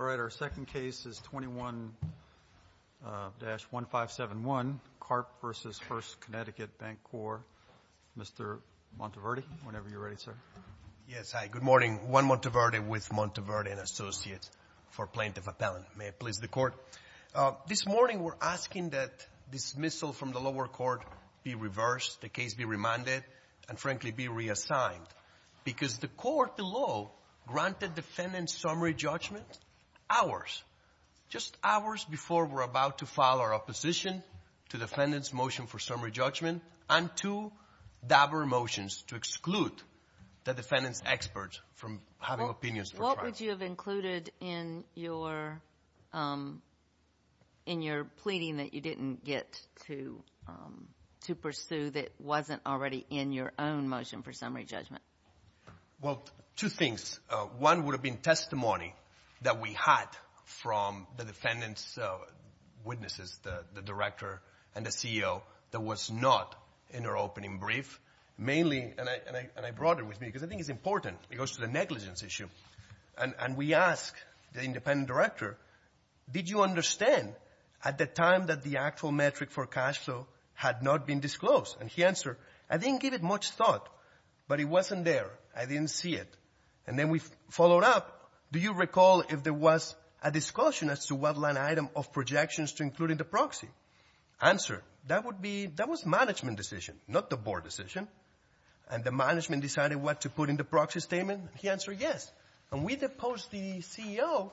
All right. Our second case is 21-1571, Karp v. First Connecticut Bancorp. Mr. Monteverdi, whenever you're ready, sir. Yes. Hi. Good morning. Juan Monteverdi with Monteverdi & Associates for plaintiff appellant. May it please the Court. This morning we're asking that dismissal from the lower court be reversed, the case be remanded, and, frankly, be reassigned. Because the court, the law, granted defendant's summary judgment hours, just hours before we're about to file our opposition to defendant's motion for summary judgment and two doubler motions to exclude the defendant's experts from having opinions for trial. What would you have included in your pleading that you didn't get to pursue that wasn't already in your own motion for summary judgment? Well, two things. One would have been testimony that we had from the defendant's witnesses, the director and the CEO, that was not in our opening brief. Mainly, and I brought it with me because I think it's important. It goes to the negligence issue. And we ask the independent director, did you understand at the time that the actual metric for cash flow had not been disclosed? And he answered, I didn't give it much thought, but it wasn't there. I didn't see it. And then we followed up, do you recall if there was a disclosure as to what line item of projections to include in the proxy? Answer, that would be, that was management decision, not the board decision. And the management decided what to put in the proxy statement. He answered yes. And we deposed the CEO,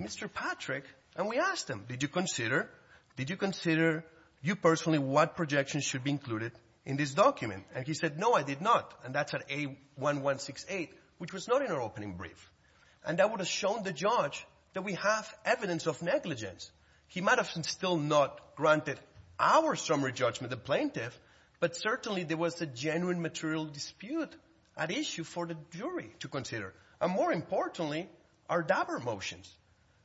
Mr. Patrick, and we asked him, did you consider, did you consider you personally what projections should be included in this document? And he said, no, I did not. And that's at A1168, which was not in our opening brief. And that would have shown the judge that we have evidence of negligence. He might have still not granted our summary judgment, the plaintiff, but certainly there was a genuine material dispute at issue for the jury to consider. And more importantly, our Dabur motions.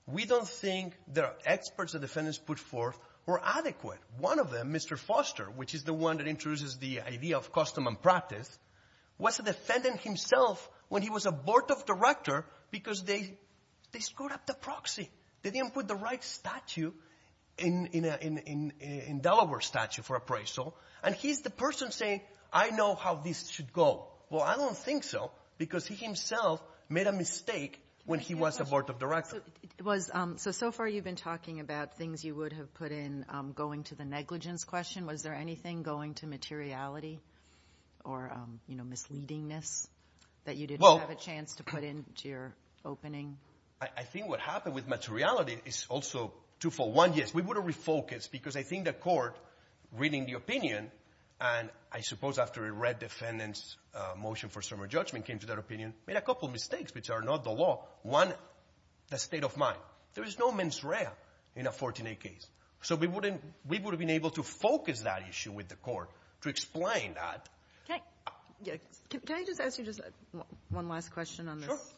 We don't think the experts the defendants put forth were adequate. One of them, Mr. Foster, which is the one that introduces the idea of custom and practice, was a defendant himself when he was a board of director because they screwed up the proxy. They didn't put the right statute in Delaware statute for appraisal. And he's the person saying, I know how this should go. Well, I don't think so, because he himself made a mistake when he was a board of director. So far you've been talking about things you would have put in going to the negligence question. Was there anything going to materiality or misleadingness that you didn't have a chance to put in to your opening? I think what happened with materiality is also twofold. One, yes, we would have refocused, because I think the court, reading the opinion, and I suppose after it read defendant's motion for summary judgment, came to that opinion, made a couple mistakes, which are not the law. One, the state of mind. There is no mens rea in a 14a case. So we would have been able to focus that issue with the court to explain that. Can I just ask you just one last question on this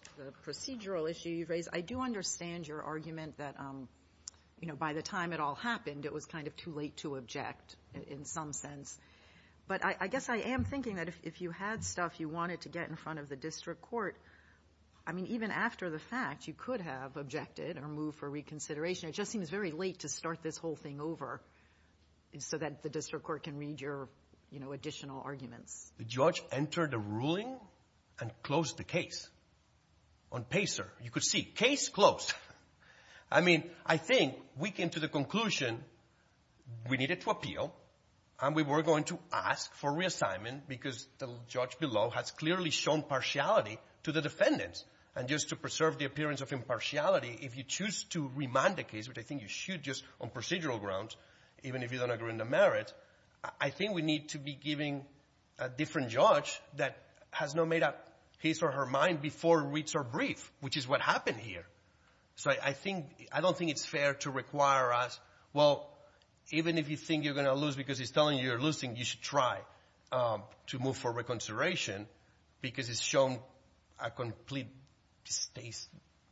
procedural issue you've raised? I do understand your argument that, you know, by the time it all happened, it was kind of too late to object in some sense. But I guess I am thinking that if you had stuff you wanted to get in front of the district court, I mean, even after the fact, you could have objected or moved for reconsideration. It just seems very late to start this whole thing over so that the district court can read your, you know, additional arguments. The judge entered a ruling and closed the case on PACER. You could see, case closed. I mean, I think we came to the right timing because the judge below has clearly shown partiality to the defendants. And just to preserve the appearance of impartiality, if you choose to remand the case, which I think you should just on procedural grounds, even if you don't agree on the merit, I think we need to be giving a different judge that has not made up his or her mind before reads our brief, which is what happened here. So I think, I don't think it's fair to require us, well, even if you think you're going to lose because he's telling you you're losing, you should try to move for reconsideration because he's shown a complete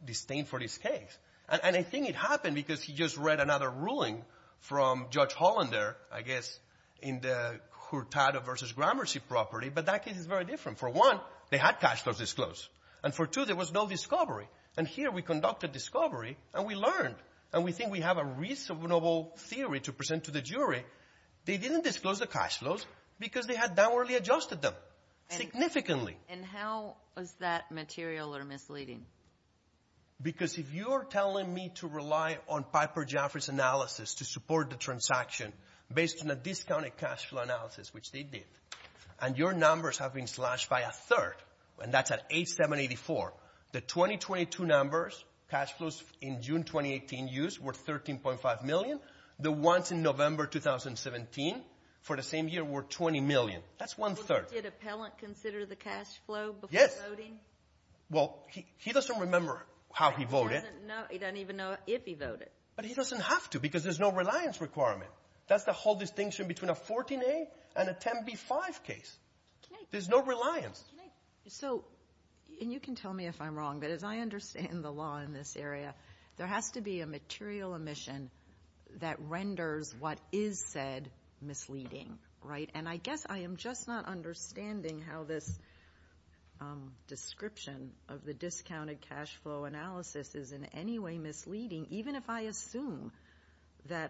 disdain for this case. And I think it happened because he just read another ruling from Judge Hollander, I guess, in the Hurtado v. Gramercy property, but that case is very different. For one, they had cash flows disclosed. And for two, there was no discovery. And here we conducted discovery and we learned. And we think we have a reasonable theory to present to the jury. They didn't disclose the cash flows because they had downwardly adjusted them significantly. And how is that material or misleading? Because if you're telling me to rely on Piper Jaffray's analysis to support the transaction based on a discounted cash flow analysis, which they did, and your 22 numbers, cash flows in June 2018 used were $13.5 million. The ones in November 2017 for the same year were $20 million. That's one-third. Did Appellant consider the cash flow before voting? Yes. Well, he doesn't remember how he voted. He doesn't even know if he voted. But he doesn't have to because there's no reliance requirement. That's the whole distinction between a 14A and a 10B-5 case. There's no reliance. And you can tell me if I'm wrong, but as I understand the law in this area, there has to be a material emission that renders what is said misleading. And I guess I am just not understanding how this description of the discounted cash flow analysis is in any way misleading, even if I assume that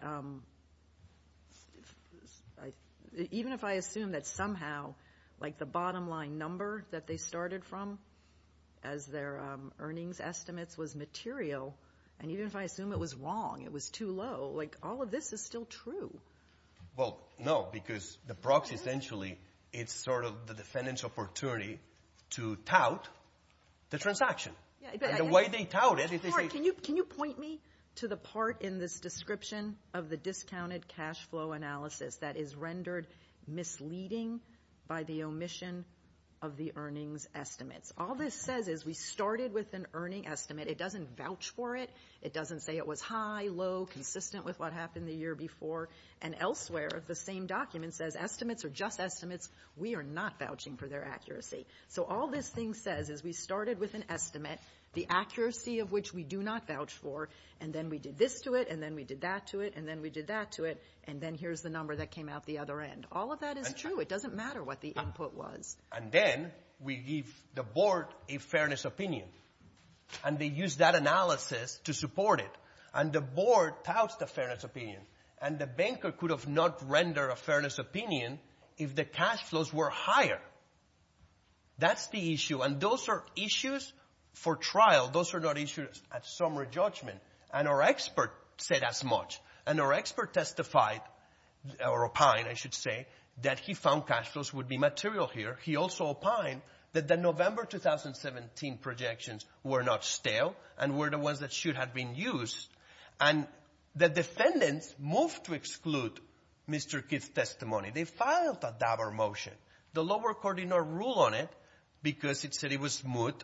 somehow, like the bottom line number that they started from as their earnings estimates was material, and even if I assume it was wrong, it was too low. Like, all of this is still true. Well, no, because the proxy essentially, it's sort of the defendant's opportunity to tout the transaction. And the way they tout it is they say... Can you point me to the part in this misleading by the omission of the earnings estimates. All this says is we started with an earning estimate. It doesn't vouch for it. It doesn't say it was high, low, consistent with what happened the year before. And elsewhere, the same document says estimates are just estimates. We are not vouching for their accuracy. So all this thing says is we started with an estimate, the accuracy of which we do not vouch for, and then we did this to it, and then we did that to it, and then we did that to it, and then here's the number that came out the other end. All of that is true. It doesn't matter what the input was. And then we give the board a fairness opinion. And they use that analysis to support it. And the board touts the fairness opinion. And the banker could have not rendered a fairness opinion if the cash flows were higher. That's the issue. And those are issues for trial. Those are not issues at summary judgment. And our expert said as much. And our expert testified, or opined, I should say, that he found cash flows would be material here. He also opined that the November 2017 projections were not stale and were the ones that should have been used. And the defendants moved to exclude Mr. Kidd's testimony. They filed a DABOR motion. The lower court did not rule on it because it said it was smooth,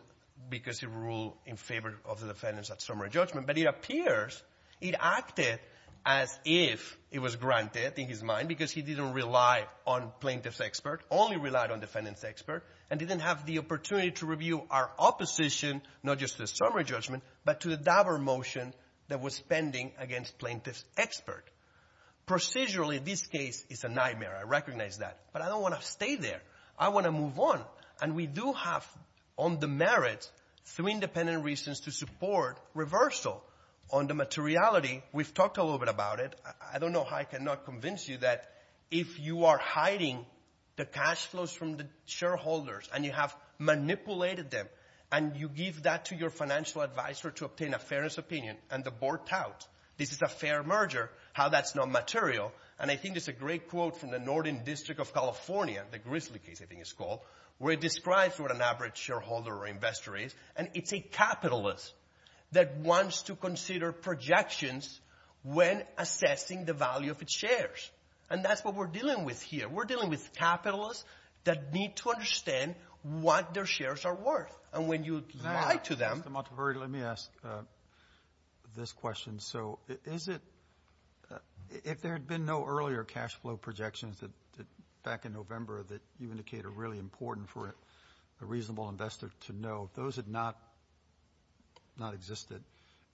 because it ruled in favor of the defendants at summary judgment. But it appears it acted as if it was granted, in his mind, because he didn't rely on plaintiff's expert, only relied on defendant's expert, and didn't have the opportunity to review our opposition, not just at summary judgment, but to the DABOR motion that was pending against plaintiff's expert. Procedurally, this case is a nightmare. I recognize that. But I don't want to stay there. I want to move on. And we do have on the merits three independent reasons to support reversal on the materiality. We've talked a little bit about it. I don't know how I cannot convince you that if you are hiding the cash flows from the shareholders, and you have manipulated them, and you give that to your shareholders, how that's not material. And I think there's a great quote from the Northern District of California, the Grizzly case, I think it's called, where it describes what an average shareholder or investor is. And it's a capitalist that wants to consider projections when assessing the value of its shares. And that's what we're dealing with here. We're dealing with capitalists that need to understand what their shares are worth. And when you lie to them— If there had been no earlier cash flow projections back in November that you indicate are really important for a reasonable investor to know, those would not have existed.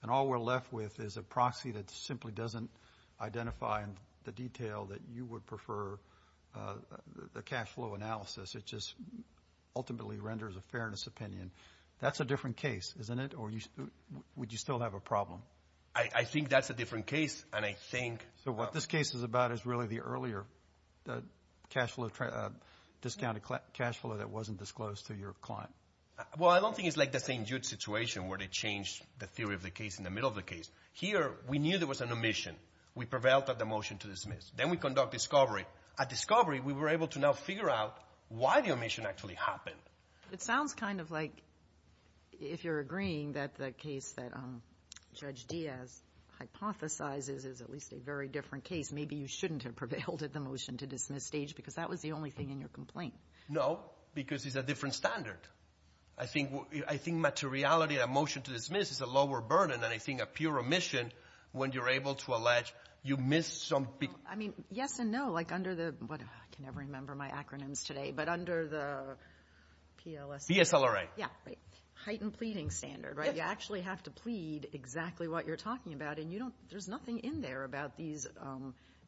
And all we're left with is a proxy that simply doesn't identify the detail that you would prefer the cash flow analysis. It just ultimately renders a fairness opinion. That's a different case, isn't it? Or would you still have a problem? I think that's a different case. And I think— So what this case is about is really the earlier cash flow, discounted cash flow that wasn't disclosed to your client? Well, I don't think it's like the St. Jude situation where they changed the theory of the case in the middle of the case. Here, we knew there was an omission. We prevailed at the motion to dismiss. Then we conduct discovery. At discovery, we were able to now figure out why the omission actually happened. It sounds kind of like, if you're agreeing, that the case that Judge Diaz hypothesizes is at least a very different case. Maybe you shouldn't have prevailed at the motion to dismiss stage because that was the only thing in your complaint. No, because it's a different standard. I think materiality at a motion to dismiss is a lower burden than I think a pure omission when you're able to allege you missed some— I mean, yes and no, like under the—I can never remember my acronyms today, but under the— PSLRA. Heightened pleading standard, right? You actually have to plead exactly what you're talking about. There's nothing in there about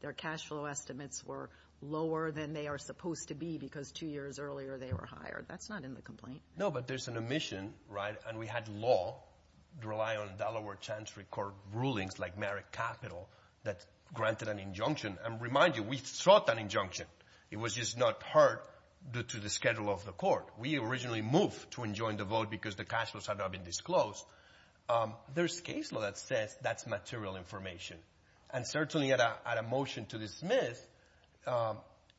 their cash flow estimates were lower than they are supposed to be because two years earlier they were hired. That's not in the complaint. No, but there's an omission, right? And we had law rely on Delaware Chancery Court rulings like merit capital that granted an injunction. And remind you, we sought an injunction. It was just not heard due to the schedule of the court. We originally moved to enjoin the vote because the cash flows had not been disclosed. There's case law that says that's material information. And certainly at a motion to dismiss,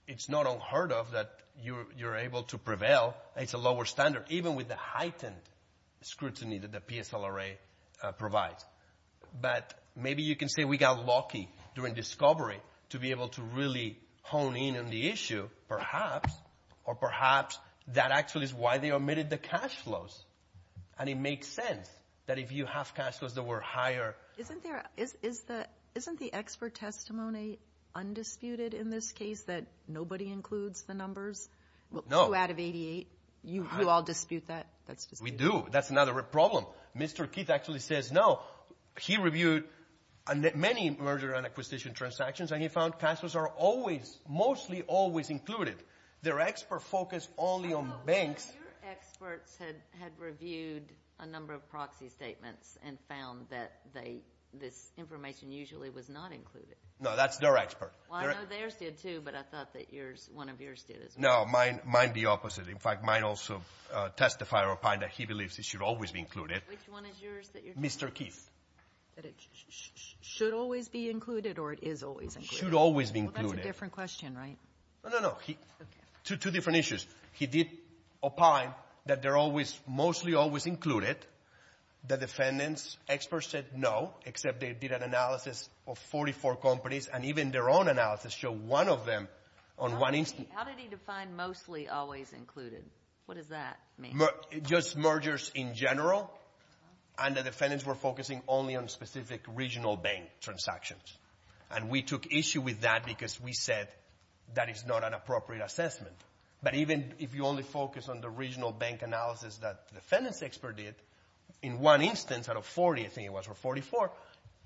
it's not unheard of that you're able to prevail. It's a lower standard. Even with the heightened scrutiny that the PSLRA provides. But maybe you can say we got lucky during discovery to be able to really hone in on the issue, perhaps, or perhaps that actually is why they omitted the cash flows. And it makes sense that if you have cash flows that were higher— Isn't the expert testimony undisputed in this case that nobody includes the numbers? No. Two out of 88. You all dispute that? We do. That's another problem. Mr. Keith actually says no. He reviewed many merger and acquisition transactions and he found cash flows are always, mostly always included. Their expert focus only on banks. Your experts had reviewed a number of proxy statements and found that this information usually was not included. No, that's their expert. Well, I know theirs did too, but I thought that one of yours did as well. No, mine the opposite. In fact, mine also testified or opined that he believes it should always be included. Which one is yours? Mr. Keith. That it should always be included or it is always included? Should always be included. Well, that's a different question, right? No, no, no. Two different issues. He did opine that they're always, mostly always included. The defendant's expert said no, except they did an analysis of 44 companies and even their own analysis showed one of them on one instance. How did he define mostly always included? What does that mean? Just mergers in general and the defendants were focusing only on specific regional bank transactions. And we took issue with that because we said that is not an appropriate assessment. But even if you only focus on the regional bank analysis that the defendant's expert did, in one instance out of 40, I think it was, or 44,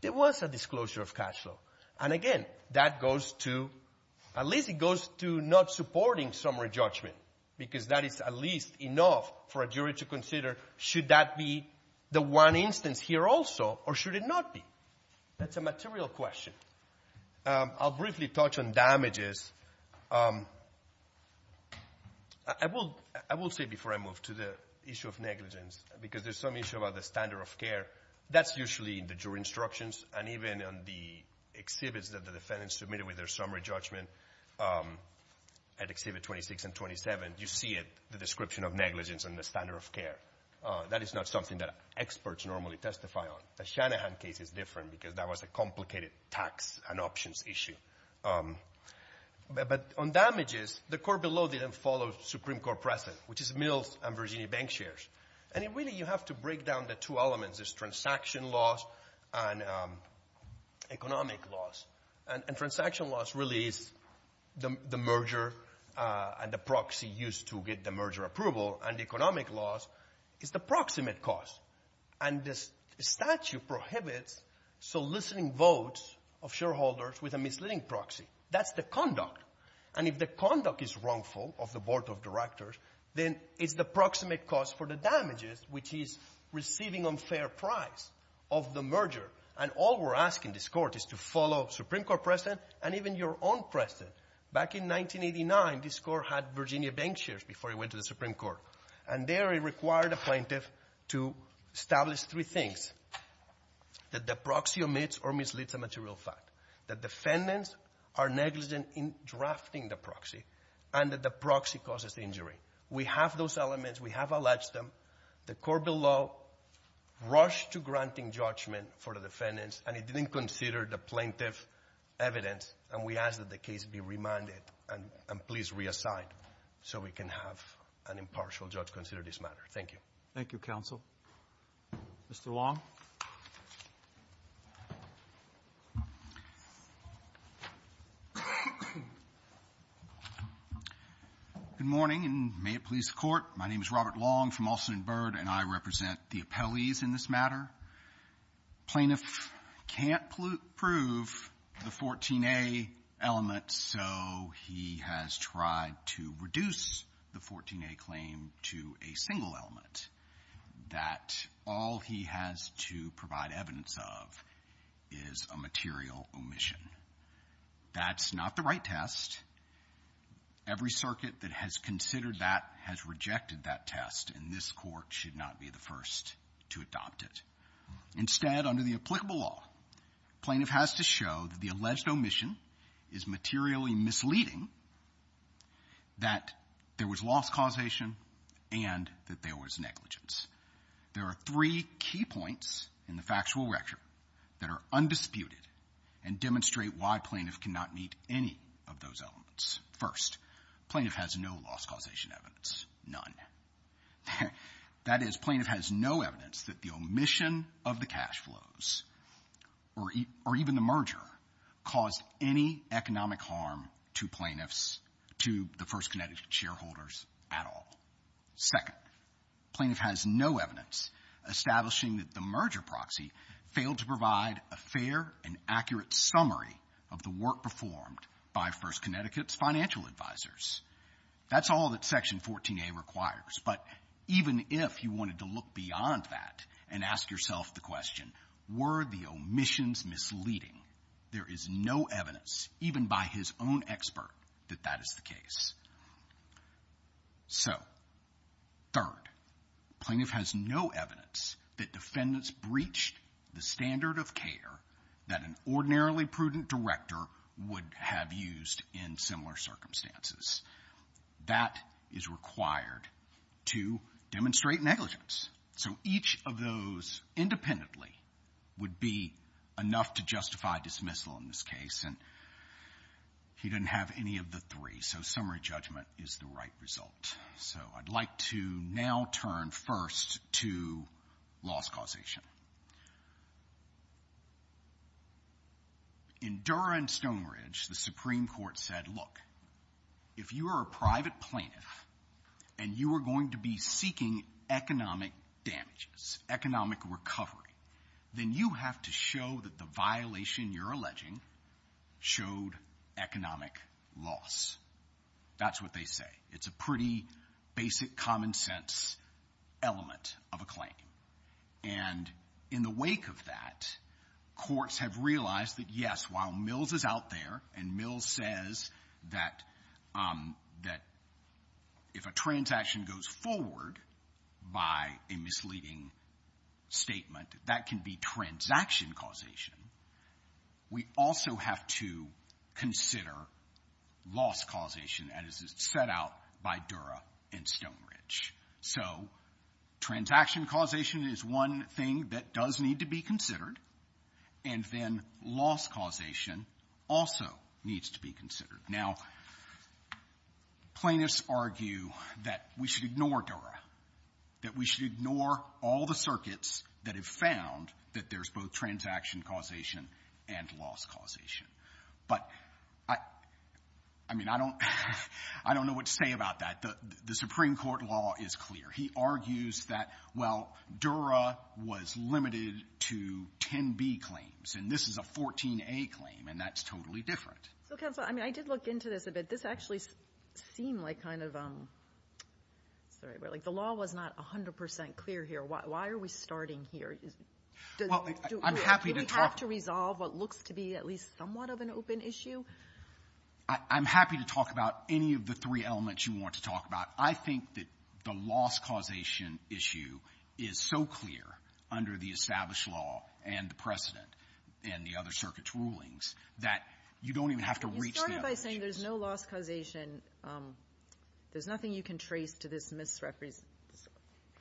there was a disclosure of cash flow. And again, that goes to, at least it goes to not supporting summary judgment because that is at least enough for a jury to consider should that be the one instance here also or should it not be? That's a material question. I'll briefly touch on damages. I will say before I move to the issue of negligence, because there's some issue about the standard of care. That's usually in the jury instructions and even on the exhibits that the defendants submitted with their summary judgment at exhibit 26 and 27, you see it, the description of negligence and the standard of care. That is not something that experts normally testify on. The Shanahan case is different because that was a complicated tax and options issue. But on damages, the court below didn't follow Supreme Court precedent, which is Mills and Virginia Bank shares. And it really, you have to break down the two elements. There's transaction loss and economic loss. And transaction loss really is the merger and the proxy used to get the merger approval. And economic loss is the proximate cause. And this statute prohibits soliciting votes of shareholders with a misleading proxy. That's the conduct. And if the conduct is wrongful of the board of directors, then it's the proximate cause for the damages, which is receiving unfair price of the merger. And all we're asking this Court is to follow Supreme Court precedent and even your own precedent. Back in 1989, this Court had Virginia Bank shares before it went to the Supreme Court. And there it required a plaintiff to establish three things, that the proxy omits or misleads a material fact, that defendants are negligent in drafting the proxy, and that the proxy causes the injury. We have those elements. We have alleged them. The court below rushed to granting judgment for the defendants. And it didn't consider the plaintiff evidence. And we ask that the case be remanded and please reassigned so we can have an impartial judge consider this matter. Thank you. Thank you, counsel. Mr. Long. Good morning, and may it please the Court. My name is Robert Long from Alston & Byrd, and I represent the appellees in this matter. Plaintiff can't prove the 14a element, so he has tried to reduce the 14a claim to a single element that all he has to provide evidence of is a material omission. That's not the right test. Every circuit that has considered that has rejected that test, and this Court should not be the first to adopt it. Instead, under the applicable law, plaintiff has to show that the alleged omission is materially misleading, that there was loss causation, and that there was negligence. There are three key points in the factual record that are undisputed and demonstrate why plaintiff cannot meet any of those elements. First, plaintiff has no loss causation evidence, none. That is, plaintiff has no evidence that the omission of the cash flows or even the merger caused any economic harm to plaintiffs, to the First Connecticut shareholders at all. Second, plaintiff has no evidence establishing that the merger proxy failed to provide a fair and accurate summary of the work performed by First Connecticut's financial advisors. That's all that Section 14a requires, but even if you wanted to look beyond that and ask yourself the question, were the omissions misleading? There is no evidence, even by his own expert, that that is the case. Third, plaintiff has no evidence that defendants breached the standard of care that an ordinarily prudent director would have used in similar circumstances. That is required to demonstrate negligence. So each of those independently would be enough to justify dismissal in this case, and he didn't have any of the three, so summary judgment is the right result. So I'd like to now turn first to loss causation. In Dura and Stone Ridge, the Supreme Court said, look, if you are a private plaintiff and you are going to be seeking economic damages, economic recovery, then you have to show that the violation you're alleging showed economic loss. That's what they say. It's a pretty basic common-sense element of a claim. And in the wake of that, courts have realized that, yes, while Mills is out there and Mills says that if a transaction goes forward by a misleading statement, that can be transaction causation. We also have to consider loss causation as it's set out by Dura and Stone Ridge. So transaction causation is one thing that does need to be considered, and then loss causation also needs to be considered. Now, plaintiffs argue that we should ignore Dura, that we should ignore all the circuits that have found that there's both transaction causation and loss causation. But, I mean, I don't know what to say about that. The Supreme Court law is clear. He argues that, well, Dura was limited to 10b claims, and this is a 14a claim, and that's totally different. So, Counselor, I mean, I did look into this a bit. This actually seemed like kind of, sorry, like the law was not 100 percent clear here. Why are we starting here? Well, I'm happy to talk. Do we have to resolve what looks to be at least somewhat of an open issue? I'm happy to talk about any of the three elements you want to talk about. I think that the loss causation issue is so clear under the established law and the precedent and the other circuit's rulings that you don't even have to reach the other issues. You started by saying there's no loss causation. There's nothing you can trace to this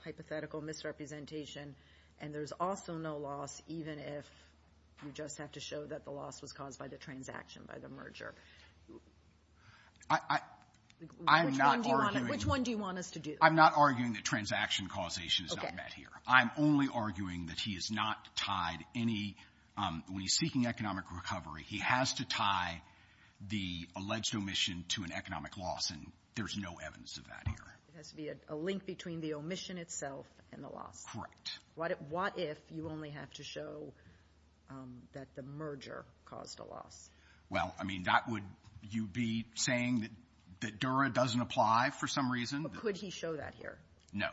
hypothetical misrepresentation, and there's also no loss even if you just have to show that the loss was caused by the transaction, by the merger. I'm not arguing. Which one do you want us to do? I'm not arguing that transaction causation is not met here. Okay. I'm only arguing that he has not tied any, when he's seeking economic recovery, he has to tie the alleged omission to an economic loss, and there's no evidence of that here. It has to be a link between the omission itself and the loss. Correct. What if you only have to show that the merger caused a loss? Well, I mean, that would you be saying that Dura doesn't apply for some reason? Could he show that here? No.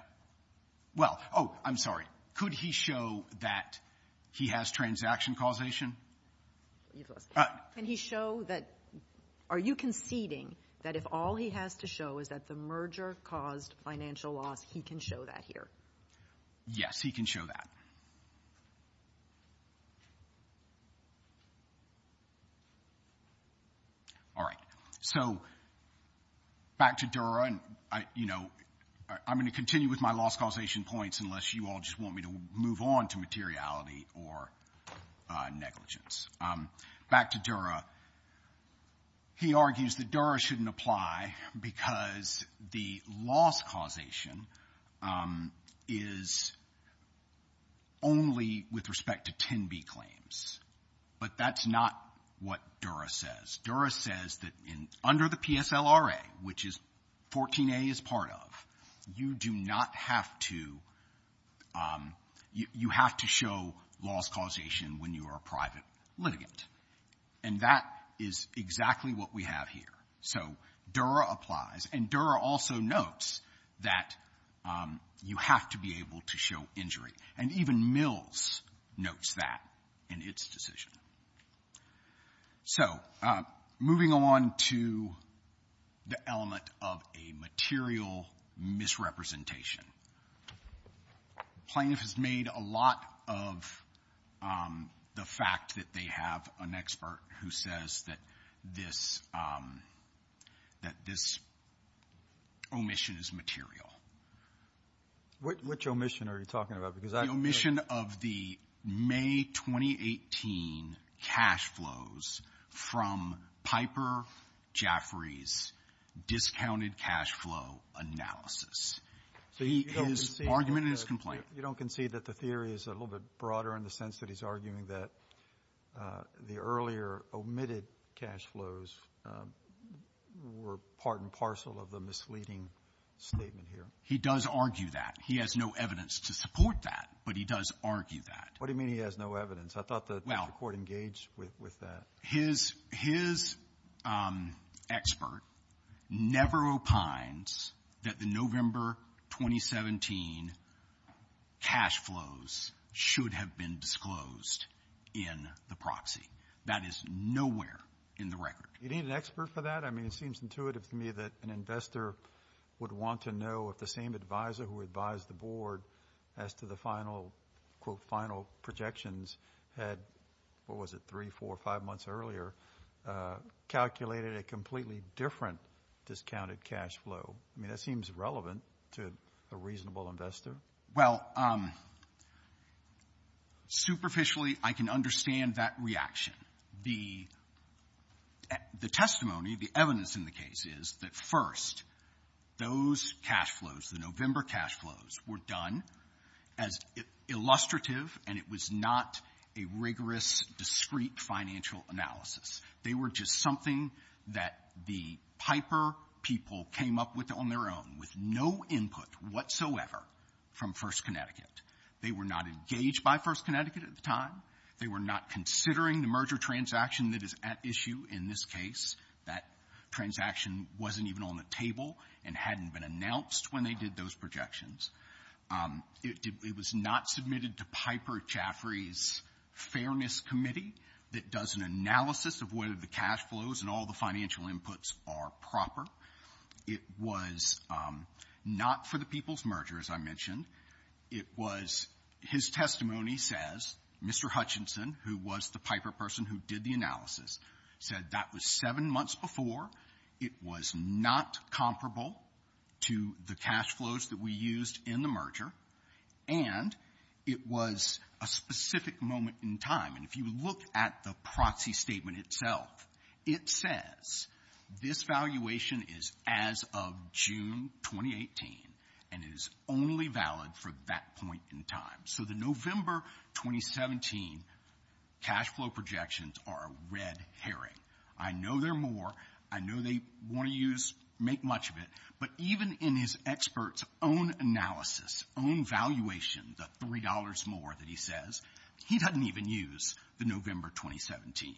Well, oh, I'm sorry. Could he show that he has transaction causation? Can he show that? Are you conceding that if all he has to show is that the merger caused financial loss, he can show that here? Yes, he can show that. All right. So back to Dura, and, you know, I'm going to continue with my loss causation points unless you all just want me to move on to materiality or negligence. Back to Dura. He argues that Dura shouldn't apply because the loss causation is only with respect to 10B claims. But that's not what Dura says. Dura says that under the PSLRA, which 14A is part of, you do not have to show loss causation when you are a private litigant. And that is exactly what we have here. So Dura applies, and Dura also notes that you have to be able to show injury. And even Mills notes that in its decision. So moving on to the element of a material misrepresentation. Plaintiff has made a lot of the fact that they have an expert who says that this omission is material. Which omission are you talking about? The omission of the May 2018 cash flows from Piper Jaffray's discounted cash flow analysis. So his argument and his complaint. You don't concede that the theory is a little bit broader in the sense that he's arguing that the earlier omitted cash flows were part and parcel of the misleading statement here? He does argue that. He has no evidence to support that, but he does argue that. What do you mean he has no evidence? I thought the Court engaged with that. His expert never opines that the November 2017 cash flows should have been disclosed in the proxy. That is nowhere in the record. You need an expert for that? I mean, it seems intuitive to me that an investor would want to know if the same advisor who advised the Board as to the final, quote, final projections had, what was it, three, four, five months earlier, calculated a completely different discounted cash flow. I mean, that seems relevant to a reasonable investor. Well, superficially, I can understand that reaction. The testimony, the evidence in the case is that, first, those cash flows, the November cash flows, were done as illustrative, and it was not a rigorous, discrete financial analysis. They were just something that the Piper people came up with on their own, with no input whatsoever from First Connecticut. They were not engaged by First Connecticut at the time. They were not considering the merger transaction that is at issue in this case. That transaction wasn't even on the table and hadn't been announced when they did those projections. It was not submitted to Piper Chaffrey's Fairness Committee that does an analysis of whether the cash flows and all the financial inputs are proper. It was not for the people's merger, as I mentioned. It was his testimony says, Mr. Hutchinson, who was the Piper person who did the analysis, said that was seven months before. It was not comparable to the cash flows that we used in the merger. And it was a specific moment in time. And if you look at the proxy statement itself, it says this valuation is as of June 2018, and it is only valid for that point in time. So the November 2017 cash flow projections are a red herring. I know there are more. I know they want to use, make much of it. But even in his expert's own analysis, own valuation, the $3 more that he says, he doesn't even use the November 2017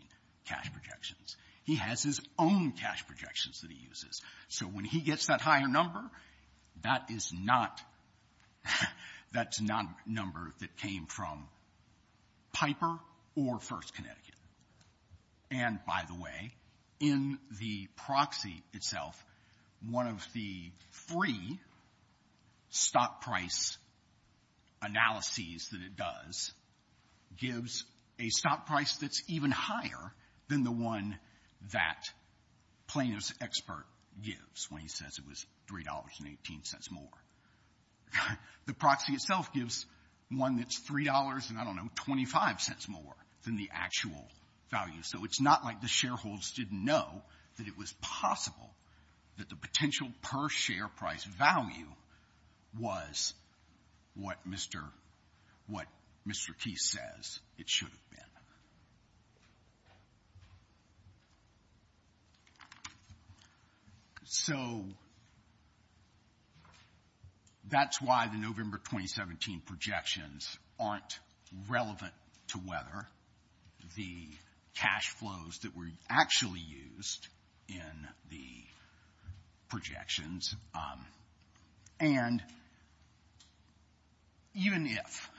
cash projections. He has his own cash projections that he uses. So when he gets that higher number, that is not number that came from Piper or First Connecticut. And, by the way, in the proxy itself, one of the free stock price analyses that it does gives a stock price that's even higher than the one that plaintiff's expert gives when he says it was $3.18 more. The proxy itself gives one that's $3 and, I don't know, 25 cents more than the actual value. So it's not like the shareholders didn't know that it was possible that the potential per share price value was what Mr. Keith says it should have been. So that's why the November 2017 projections aren't relevant to whether the cash flows that were actually used in the projections, and even if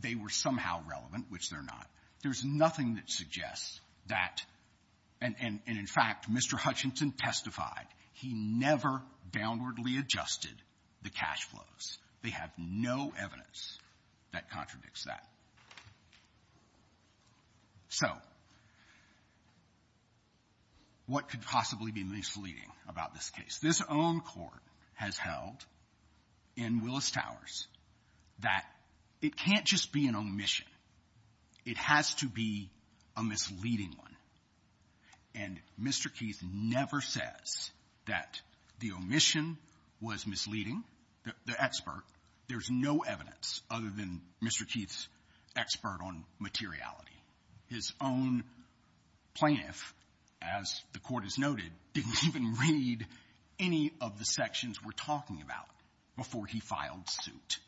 they were somehow relevant, which they're not, there's nothing that suggests that. And, in fact, Mr. Hutchinson testified he never downwardly adjusted the cash flows. They have no evidence that contradicts that. So what could possibly be misleading about this case? This own court has held in Willis-Towers that it can't just be an omission. It has to be a misleading one. And Mr. Keith never says that the omission was misleading, the expert. There's no evidence other than Mr. Keith's expert on materiality. His own plaintiff, as the Court has noted, didn't even read any of the sections we're talking about before he filed suit.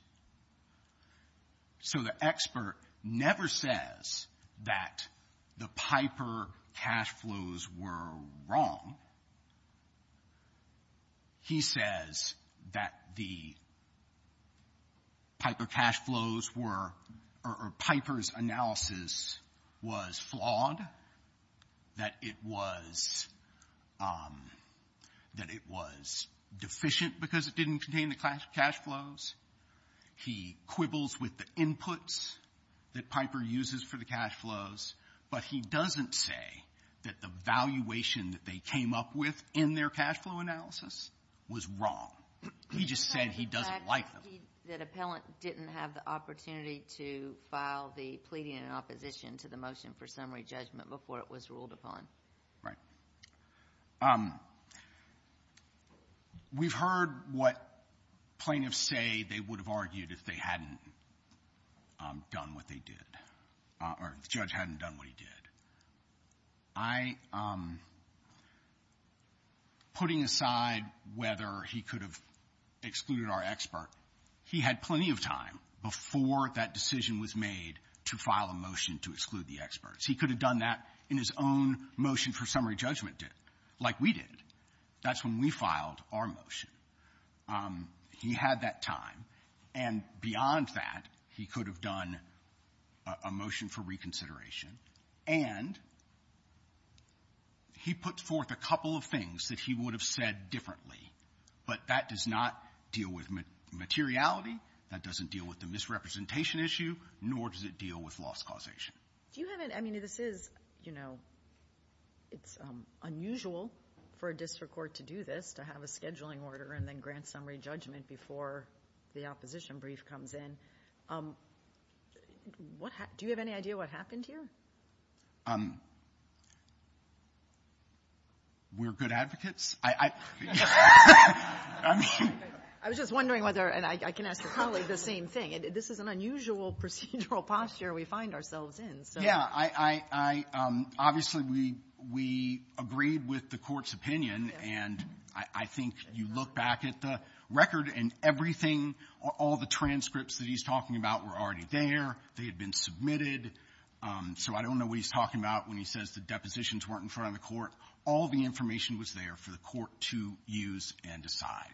So the expert never says that the Piper cash flows were wrong. He says that the Piper cash flows were or Piper's analysis was flawed, that it was deficient because it didn't contain the cash flows. He quibbles with the inputs that Piper uses for the cash flows, but he doesn't say that the valuation that they came up with in their cash flow analysis was wrong. He just said he doesn't like them. The fact that the appellant didn't have the opportunity to file the pleading in opposition to the motion for summary judgment before it was ruled upon. Right. We've heard what plaintiffs say they would have argued if they hadn't done what they did or if the judge hadn't done what he did. I am putting aside whether he could have excluded our expert. He had plenty of time before that decision was made to file a motion to exclude the experts. He could have done that in his own motion for summary judgment, like we did. That's when we filed our motion. He had that time. And beyond that, he could have done a motion for reconsideration. And he puts forth a couple of things that he would have said differently, but that does not deal with materiality, that doesn't deal with the misrepresentation issue, nor does it deal with loss causation. Do you have any of this is, you know, it's unusual for a district court to do this, to have a scheduling order and then grant summary judgment before the opposition brief comes in. Do you have any idea what happened here? We're good advocates. I was just wondering whether, and I can ask the colleague the same thing, this is an unusual procedural posture we find ourselves in. Yeah. Obviously, we agreed with the Court's opinion. And I think you look back at the record and everything, all the transcripts that he's talking about were already there. They had been submitted. So I don't know what he's talking about when he says the depositions weren't in front of the court. All the information was there for the court to use and decide.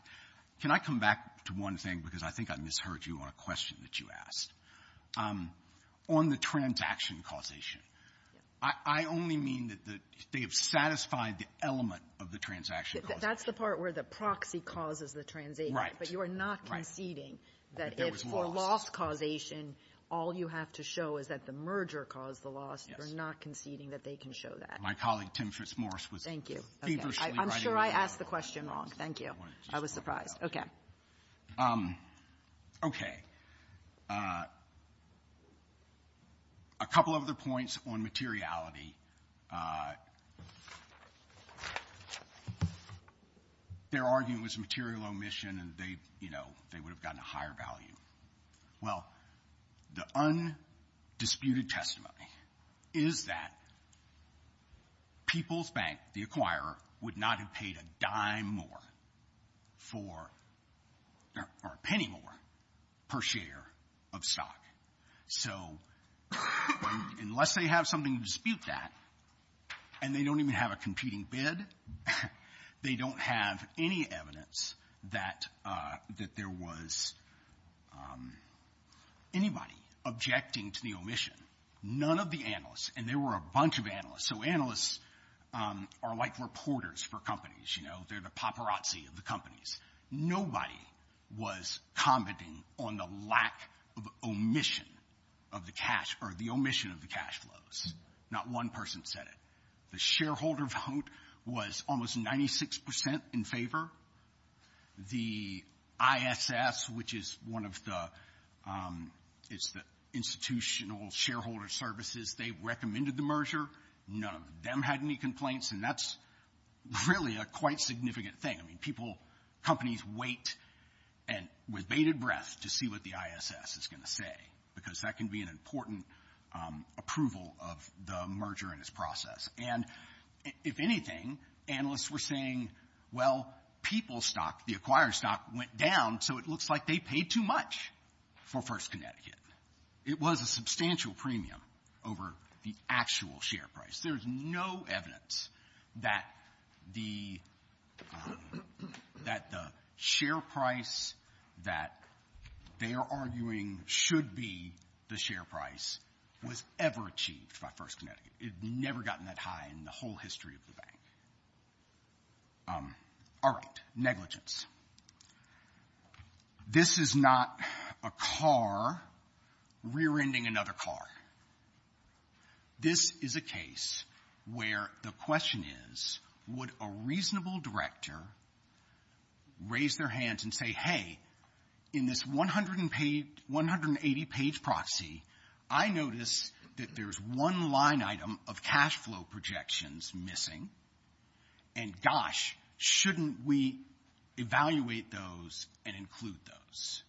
Can I come back to one thing? Because I think I misheard you on a question that you asked. On the transaction causation, I only mean that they have satisfied the element of the transaction causation. That's the part where the proxy causes the transaction. Right. But you are not conceding that if for loss causation, all you have to show is that the merger caused the loss. Yes. You're not conceding that they can show that. My colleague, Tim Fitzmorris, was feverishly writing that down. Thank you. I'm sure I asked the question wrong. Thank you. I was surprised. Okay. So, okay. A couple of other points on materiality. They're arguing it was material omission and they would have gotten a higher value. Well, the undisputed testimony is that People's Bank, the acquirer, would not have paid a dime more or a penny more per share of stock. So unless they have something to dispute that, and they don't even have a competing bid, they don't have any evidence that there was anybody objecting to the omission. None of the analysts. And there were a bunch of analysts. So analysts are like reporters for companies, you know. They're the paparazzi of the companies. Nobody was commenting on the lack of omission of the cash or the omission of the cash flows. Not one person said it. The shareholder vote was almost 96% in favor. The ISS, which is one of the institutional shareholder services, they recommended the merger. None of them had any complaints, and that's really a quite significant thing. I mean, people, companies wait with bated breath to see what the ISS is going to say because that can be an important approval of the merger and its process. And if anything, analysts were saying, well, People's stock, the acquirer's stock, went down so it looks like they paid too much for First Connecticut. It was a substantial premium over the actual share price. There's no evidence that the share price that they are arguing should be the share price was ever achieved by First Connecticut. It had never gotten that high in the whole history of the bank. All right. Negligence. This is not a car rear-ending another car. This is a case where the question is, would a reasonable director raise their hands and say, hey, in this 180-page proxy, I notice that there's one line item of cash flow projections missing, and gosh, shouldn't we evaluate those and include those?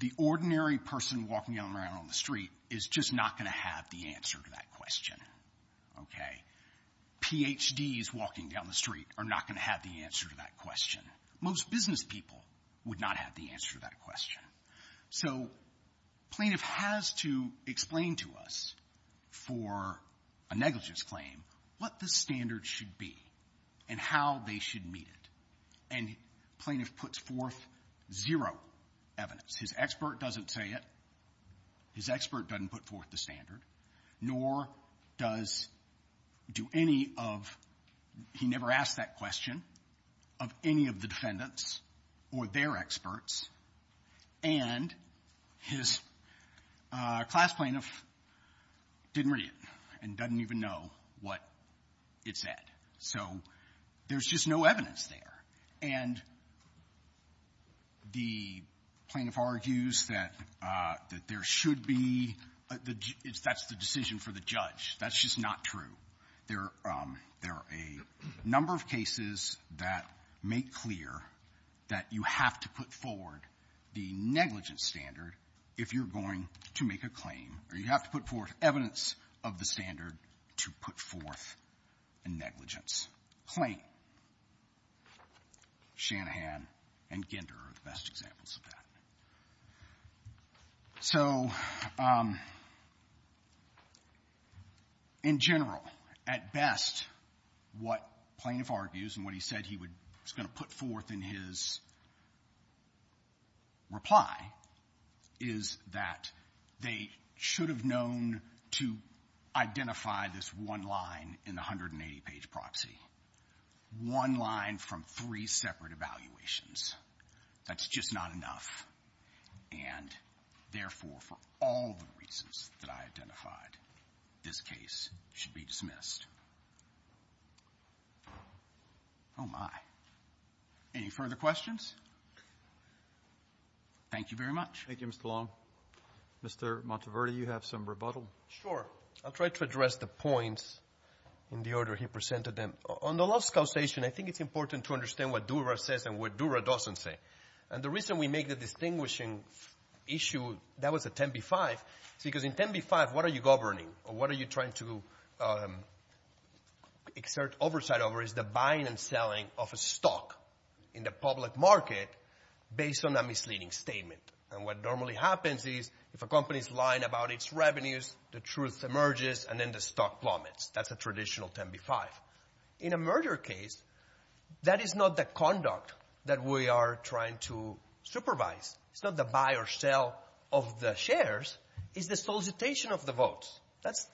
The ordinary person walking around on the street is just not going to have the answer to that question. Okay? PhDs walking down the street are not going to have the answer to that question. Most business people would not have the answer to that question. So plaintiff has to explain to us for a negligence claim what the standard should be and how they should meet it. And plaintiff puts forth zero evidence. His expert doesn't say it. His expert doesn't put forth the standard. Nor does do any of he never asked that question of any of the defendants or their experts. And his class plaintiff didn't read it and doesn't even know what it said. So there's just no evidence there. And the plaintiff argues that there should be. That's the decision for the judge. That's just not true. There are a number of cases that make clear that you have to put forward the negligence standard if you're going to make a claim, or you have to put forth evidence of the standard to put forth a negligence claim. Shanahan and Ginder are the best examples of that. So in general, at best, what plaintiff argues and what he said he was going to put forth in his reply is that they should have known to identify this one line in the 180-page proxy, one line from three separate evaluations. That's just not enough. And therefore, for all the reasons that I identified, this case should be dismissed. Oh, my. Any further questions? Thank you very much. Thank you, Mr. Long. Mr. Monteverdi, you have some rebuttal? Sure. I'll try to address the points in the order he presented them. On the loss causation, I think it's important to understand what Dura says and what Dura doesn't say. And the reason we make the distinguishing issue, that was a 10b-5, because in 10b-5, what are you governing or what are you trying to exert oversight over is the buying and selling of a stock in the public market based on a misleading statement. And what normally happens is if a company is lying about its revenues, the truth emerges, and then the stock plummets. That's a traditional 10b-5. In a merger case, that is not the conduct that we are trying to supervise. It's not the buy or sell of the shares. It's the solicitation of the votes.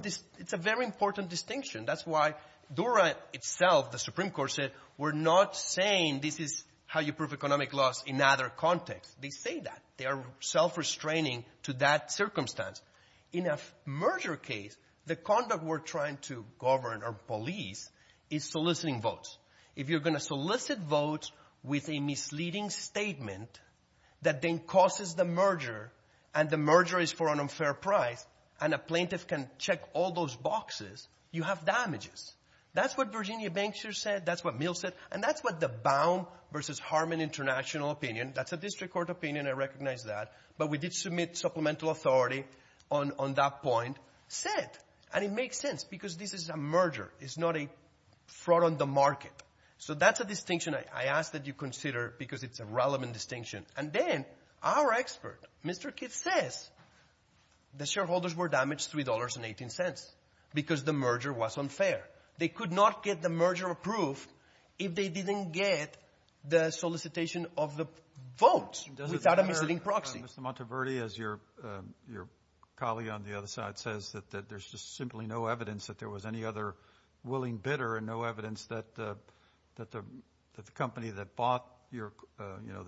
It's a very important distinction. That's why Dura itself, the Supreme Court said, we're not saying this is how you prove economic loss in other contexts. They say that. They are self-restraining to that circumstance. In a merger case, the conduct we're trying to govern or police is soliciting votes. If you're going to solicit votes with a misleading statement that then causes the merger and the merger is for an unfair price and a plaintiff can check all those boxes, you have damages. That's what Virginia Bankshear said. That's what Mill said. And that's what the Baum v. Harmon International opinion, that's a district court opinion, I recognize that, but we did submit supplemental authority on that point, said, and it makes sense because this is a merger. It's not a fraud on the market. So that's a distinction I ask that you consider because it's a relevant distinction. And then our expert, Mr. Kidd, says the shareholders were damaged $3.18 because the merger was unfair. They could not get the merger approved if they didn't get the solicitation of the votes without a misleading proxy. Mr. Monteverdi, as your colleague on the other side says, that there's just simply no evidence that there was any other willing bidder and no evidence that the company that bought the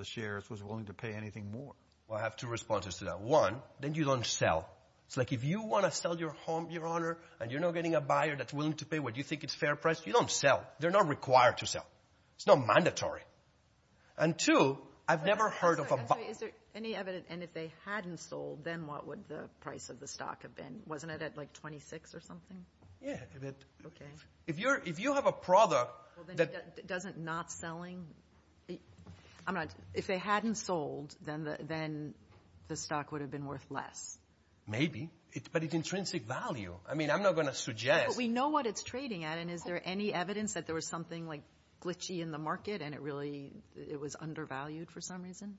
shares was willing to pay anything more. I have two responses to that. One, then you don't sell. It's like if you want to sell your home, Your Honor, and you're not getting a buyer that's willing to pay what you think is fair price, you don't sell. They're not required to sell. It's not mandatory. And two, I've never heard of a buyer. Is there any evidence? And if they hadn't sold, then what would the price of the stock have been? Wasn't it at like $26 or something? Yeah. Okay. If you have a product that— Well, then doesn't not selling—I'm not— If they hadn't sold, then the stock would have been worth less. Maybe, but it's intrinsic value. I mean, I'm not going to suggest— But we know what it's trading at, and is there any evidence that there was something like glitchy in the market and it really was undervalued for some reason?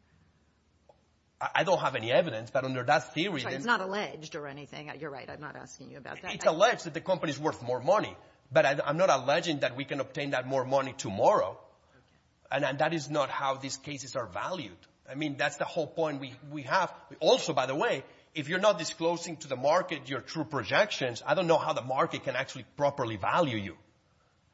I don't have any evidence, but under that theory— It's not alleged or anything. You're right. I'm not asking you about that. It's alleged that the company is worth more money, but I'm not alleging that we can obtain that more money tomorrow, and that is not how these cases are valued. I mean, that's the whole point we have. Also, by the way, if you're not disclosing to the market your true projections, I don't know how the market can actually properly value you.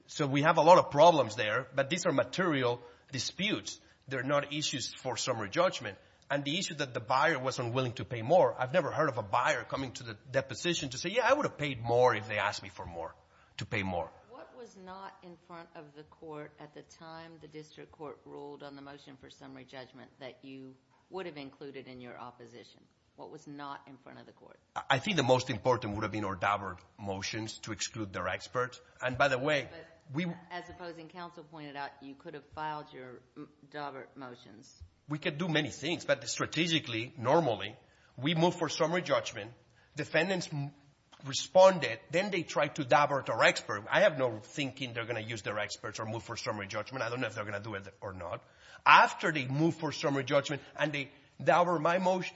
So we have a lot of problems there, but these are material disputes. They're not issues for summary judgment. And the issue that the buyer wasn't willing to pay more, I've never heard of a buyer coming to the deposition to say, Yeah, I would have paid more if they asked me for more, to pay more. What was not in front of the court at the time the district court ruled on the motion for summary judgment that you would have included in your opposition? What was not in front of the court? I think the most important would have been our Daubert motions to exclude their experts. And, by the way, we — But as opposing counsel pointed out, you could have filed your Daubert motions. We could do many things, but strategically, normally, we move for summary judgment. Defendants responded. Then they tried to Daubert our experts. I have no thinking they're going to use their experts or move for summary judgment. I don't know if they're going to do it or not. After they move for summary judgment and they Daubert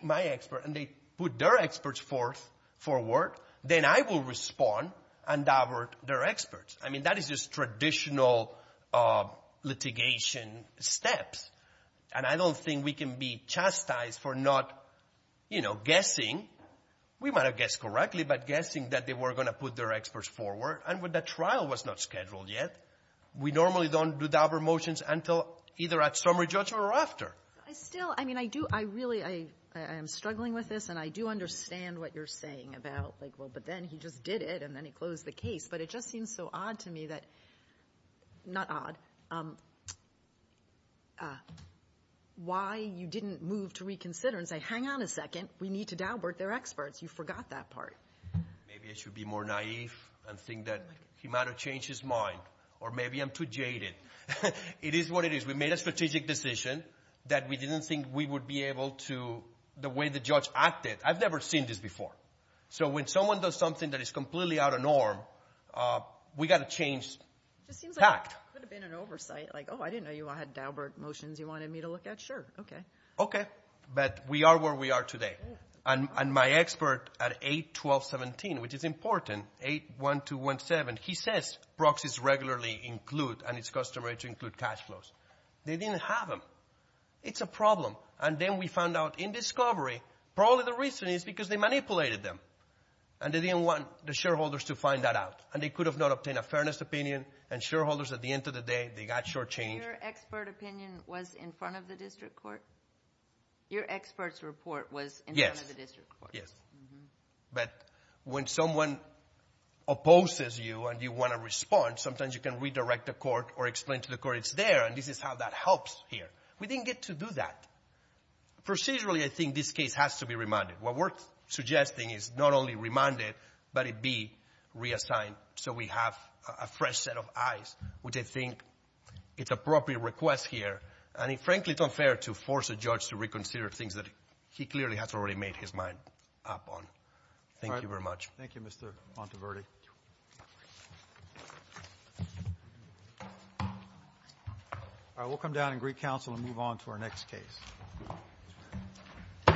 my expert and they put their experts forward, then I will respond and Daubert their experts. I mean, that is just traditional litigation steps. And I don't think we can be chastised for not, you know, guessing. We might have guessed correctly, but guessing that they were going to put their experts forward. And when the trial was not scheduled yet, we normally don't do Daubert motions until either at summary judgment or after. Still, I mean, I do — I really — I am struggling with this, and I do understand what you're saying about, like, well, but then he just did it, and then he closed the case. But it just seems so odd to me that — not odd — why you didn't move to reconsider and say, hang on a second, we need to Daubert their experts. You forgot that part. Maybe I should be more naive and think that he might have changed his mind. Or maybe I'm too jaded. It is what it is. We made a strategic decision that we didn't think we would be able to, the way the judge acted. I've never seen this before. So when someone does something that is completely out of norm, we've got to change tact. It just seems like it could have been an oversight. Like, oh, I didn't know you all had Daubert motions you wanted me to look at. Sure, okay. Okay, but we are where we are today. And my expert at 8-1217, which is important, 8-1217, he says proxies regularly include and it's customary to include cash flows. They didn't have them. It's a problem. And then we found out in discovery probably the reason is because they manipulated them. And they didn't want the shareholders to find that out. And they could have not obtained a fairness opinion. And shareholders, at the end of the day, they got shortchanged. Your expert opinion was in front of the district court? Your expert's report was in front of the district court. Yes, yes. But when someone opposes you and you want a response, sometimes you can redirect the court or explain to the court it's there and this is how that helps here. We didn't get to do that. Procedurally, I think this case has to be remanded. What we're suggesting is not only remand it, but it be reassigned so we have a fresh set of eyes, which I think it's appropriate request here. And, frankly, it's unfair to force a judge to reconsider things that he clearly has already made his mind up on. Thank you very much. Thank you, Mr. Monteverdi. All right, we'll come down and greet counsel and move on to our next case.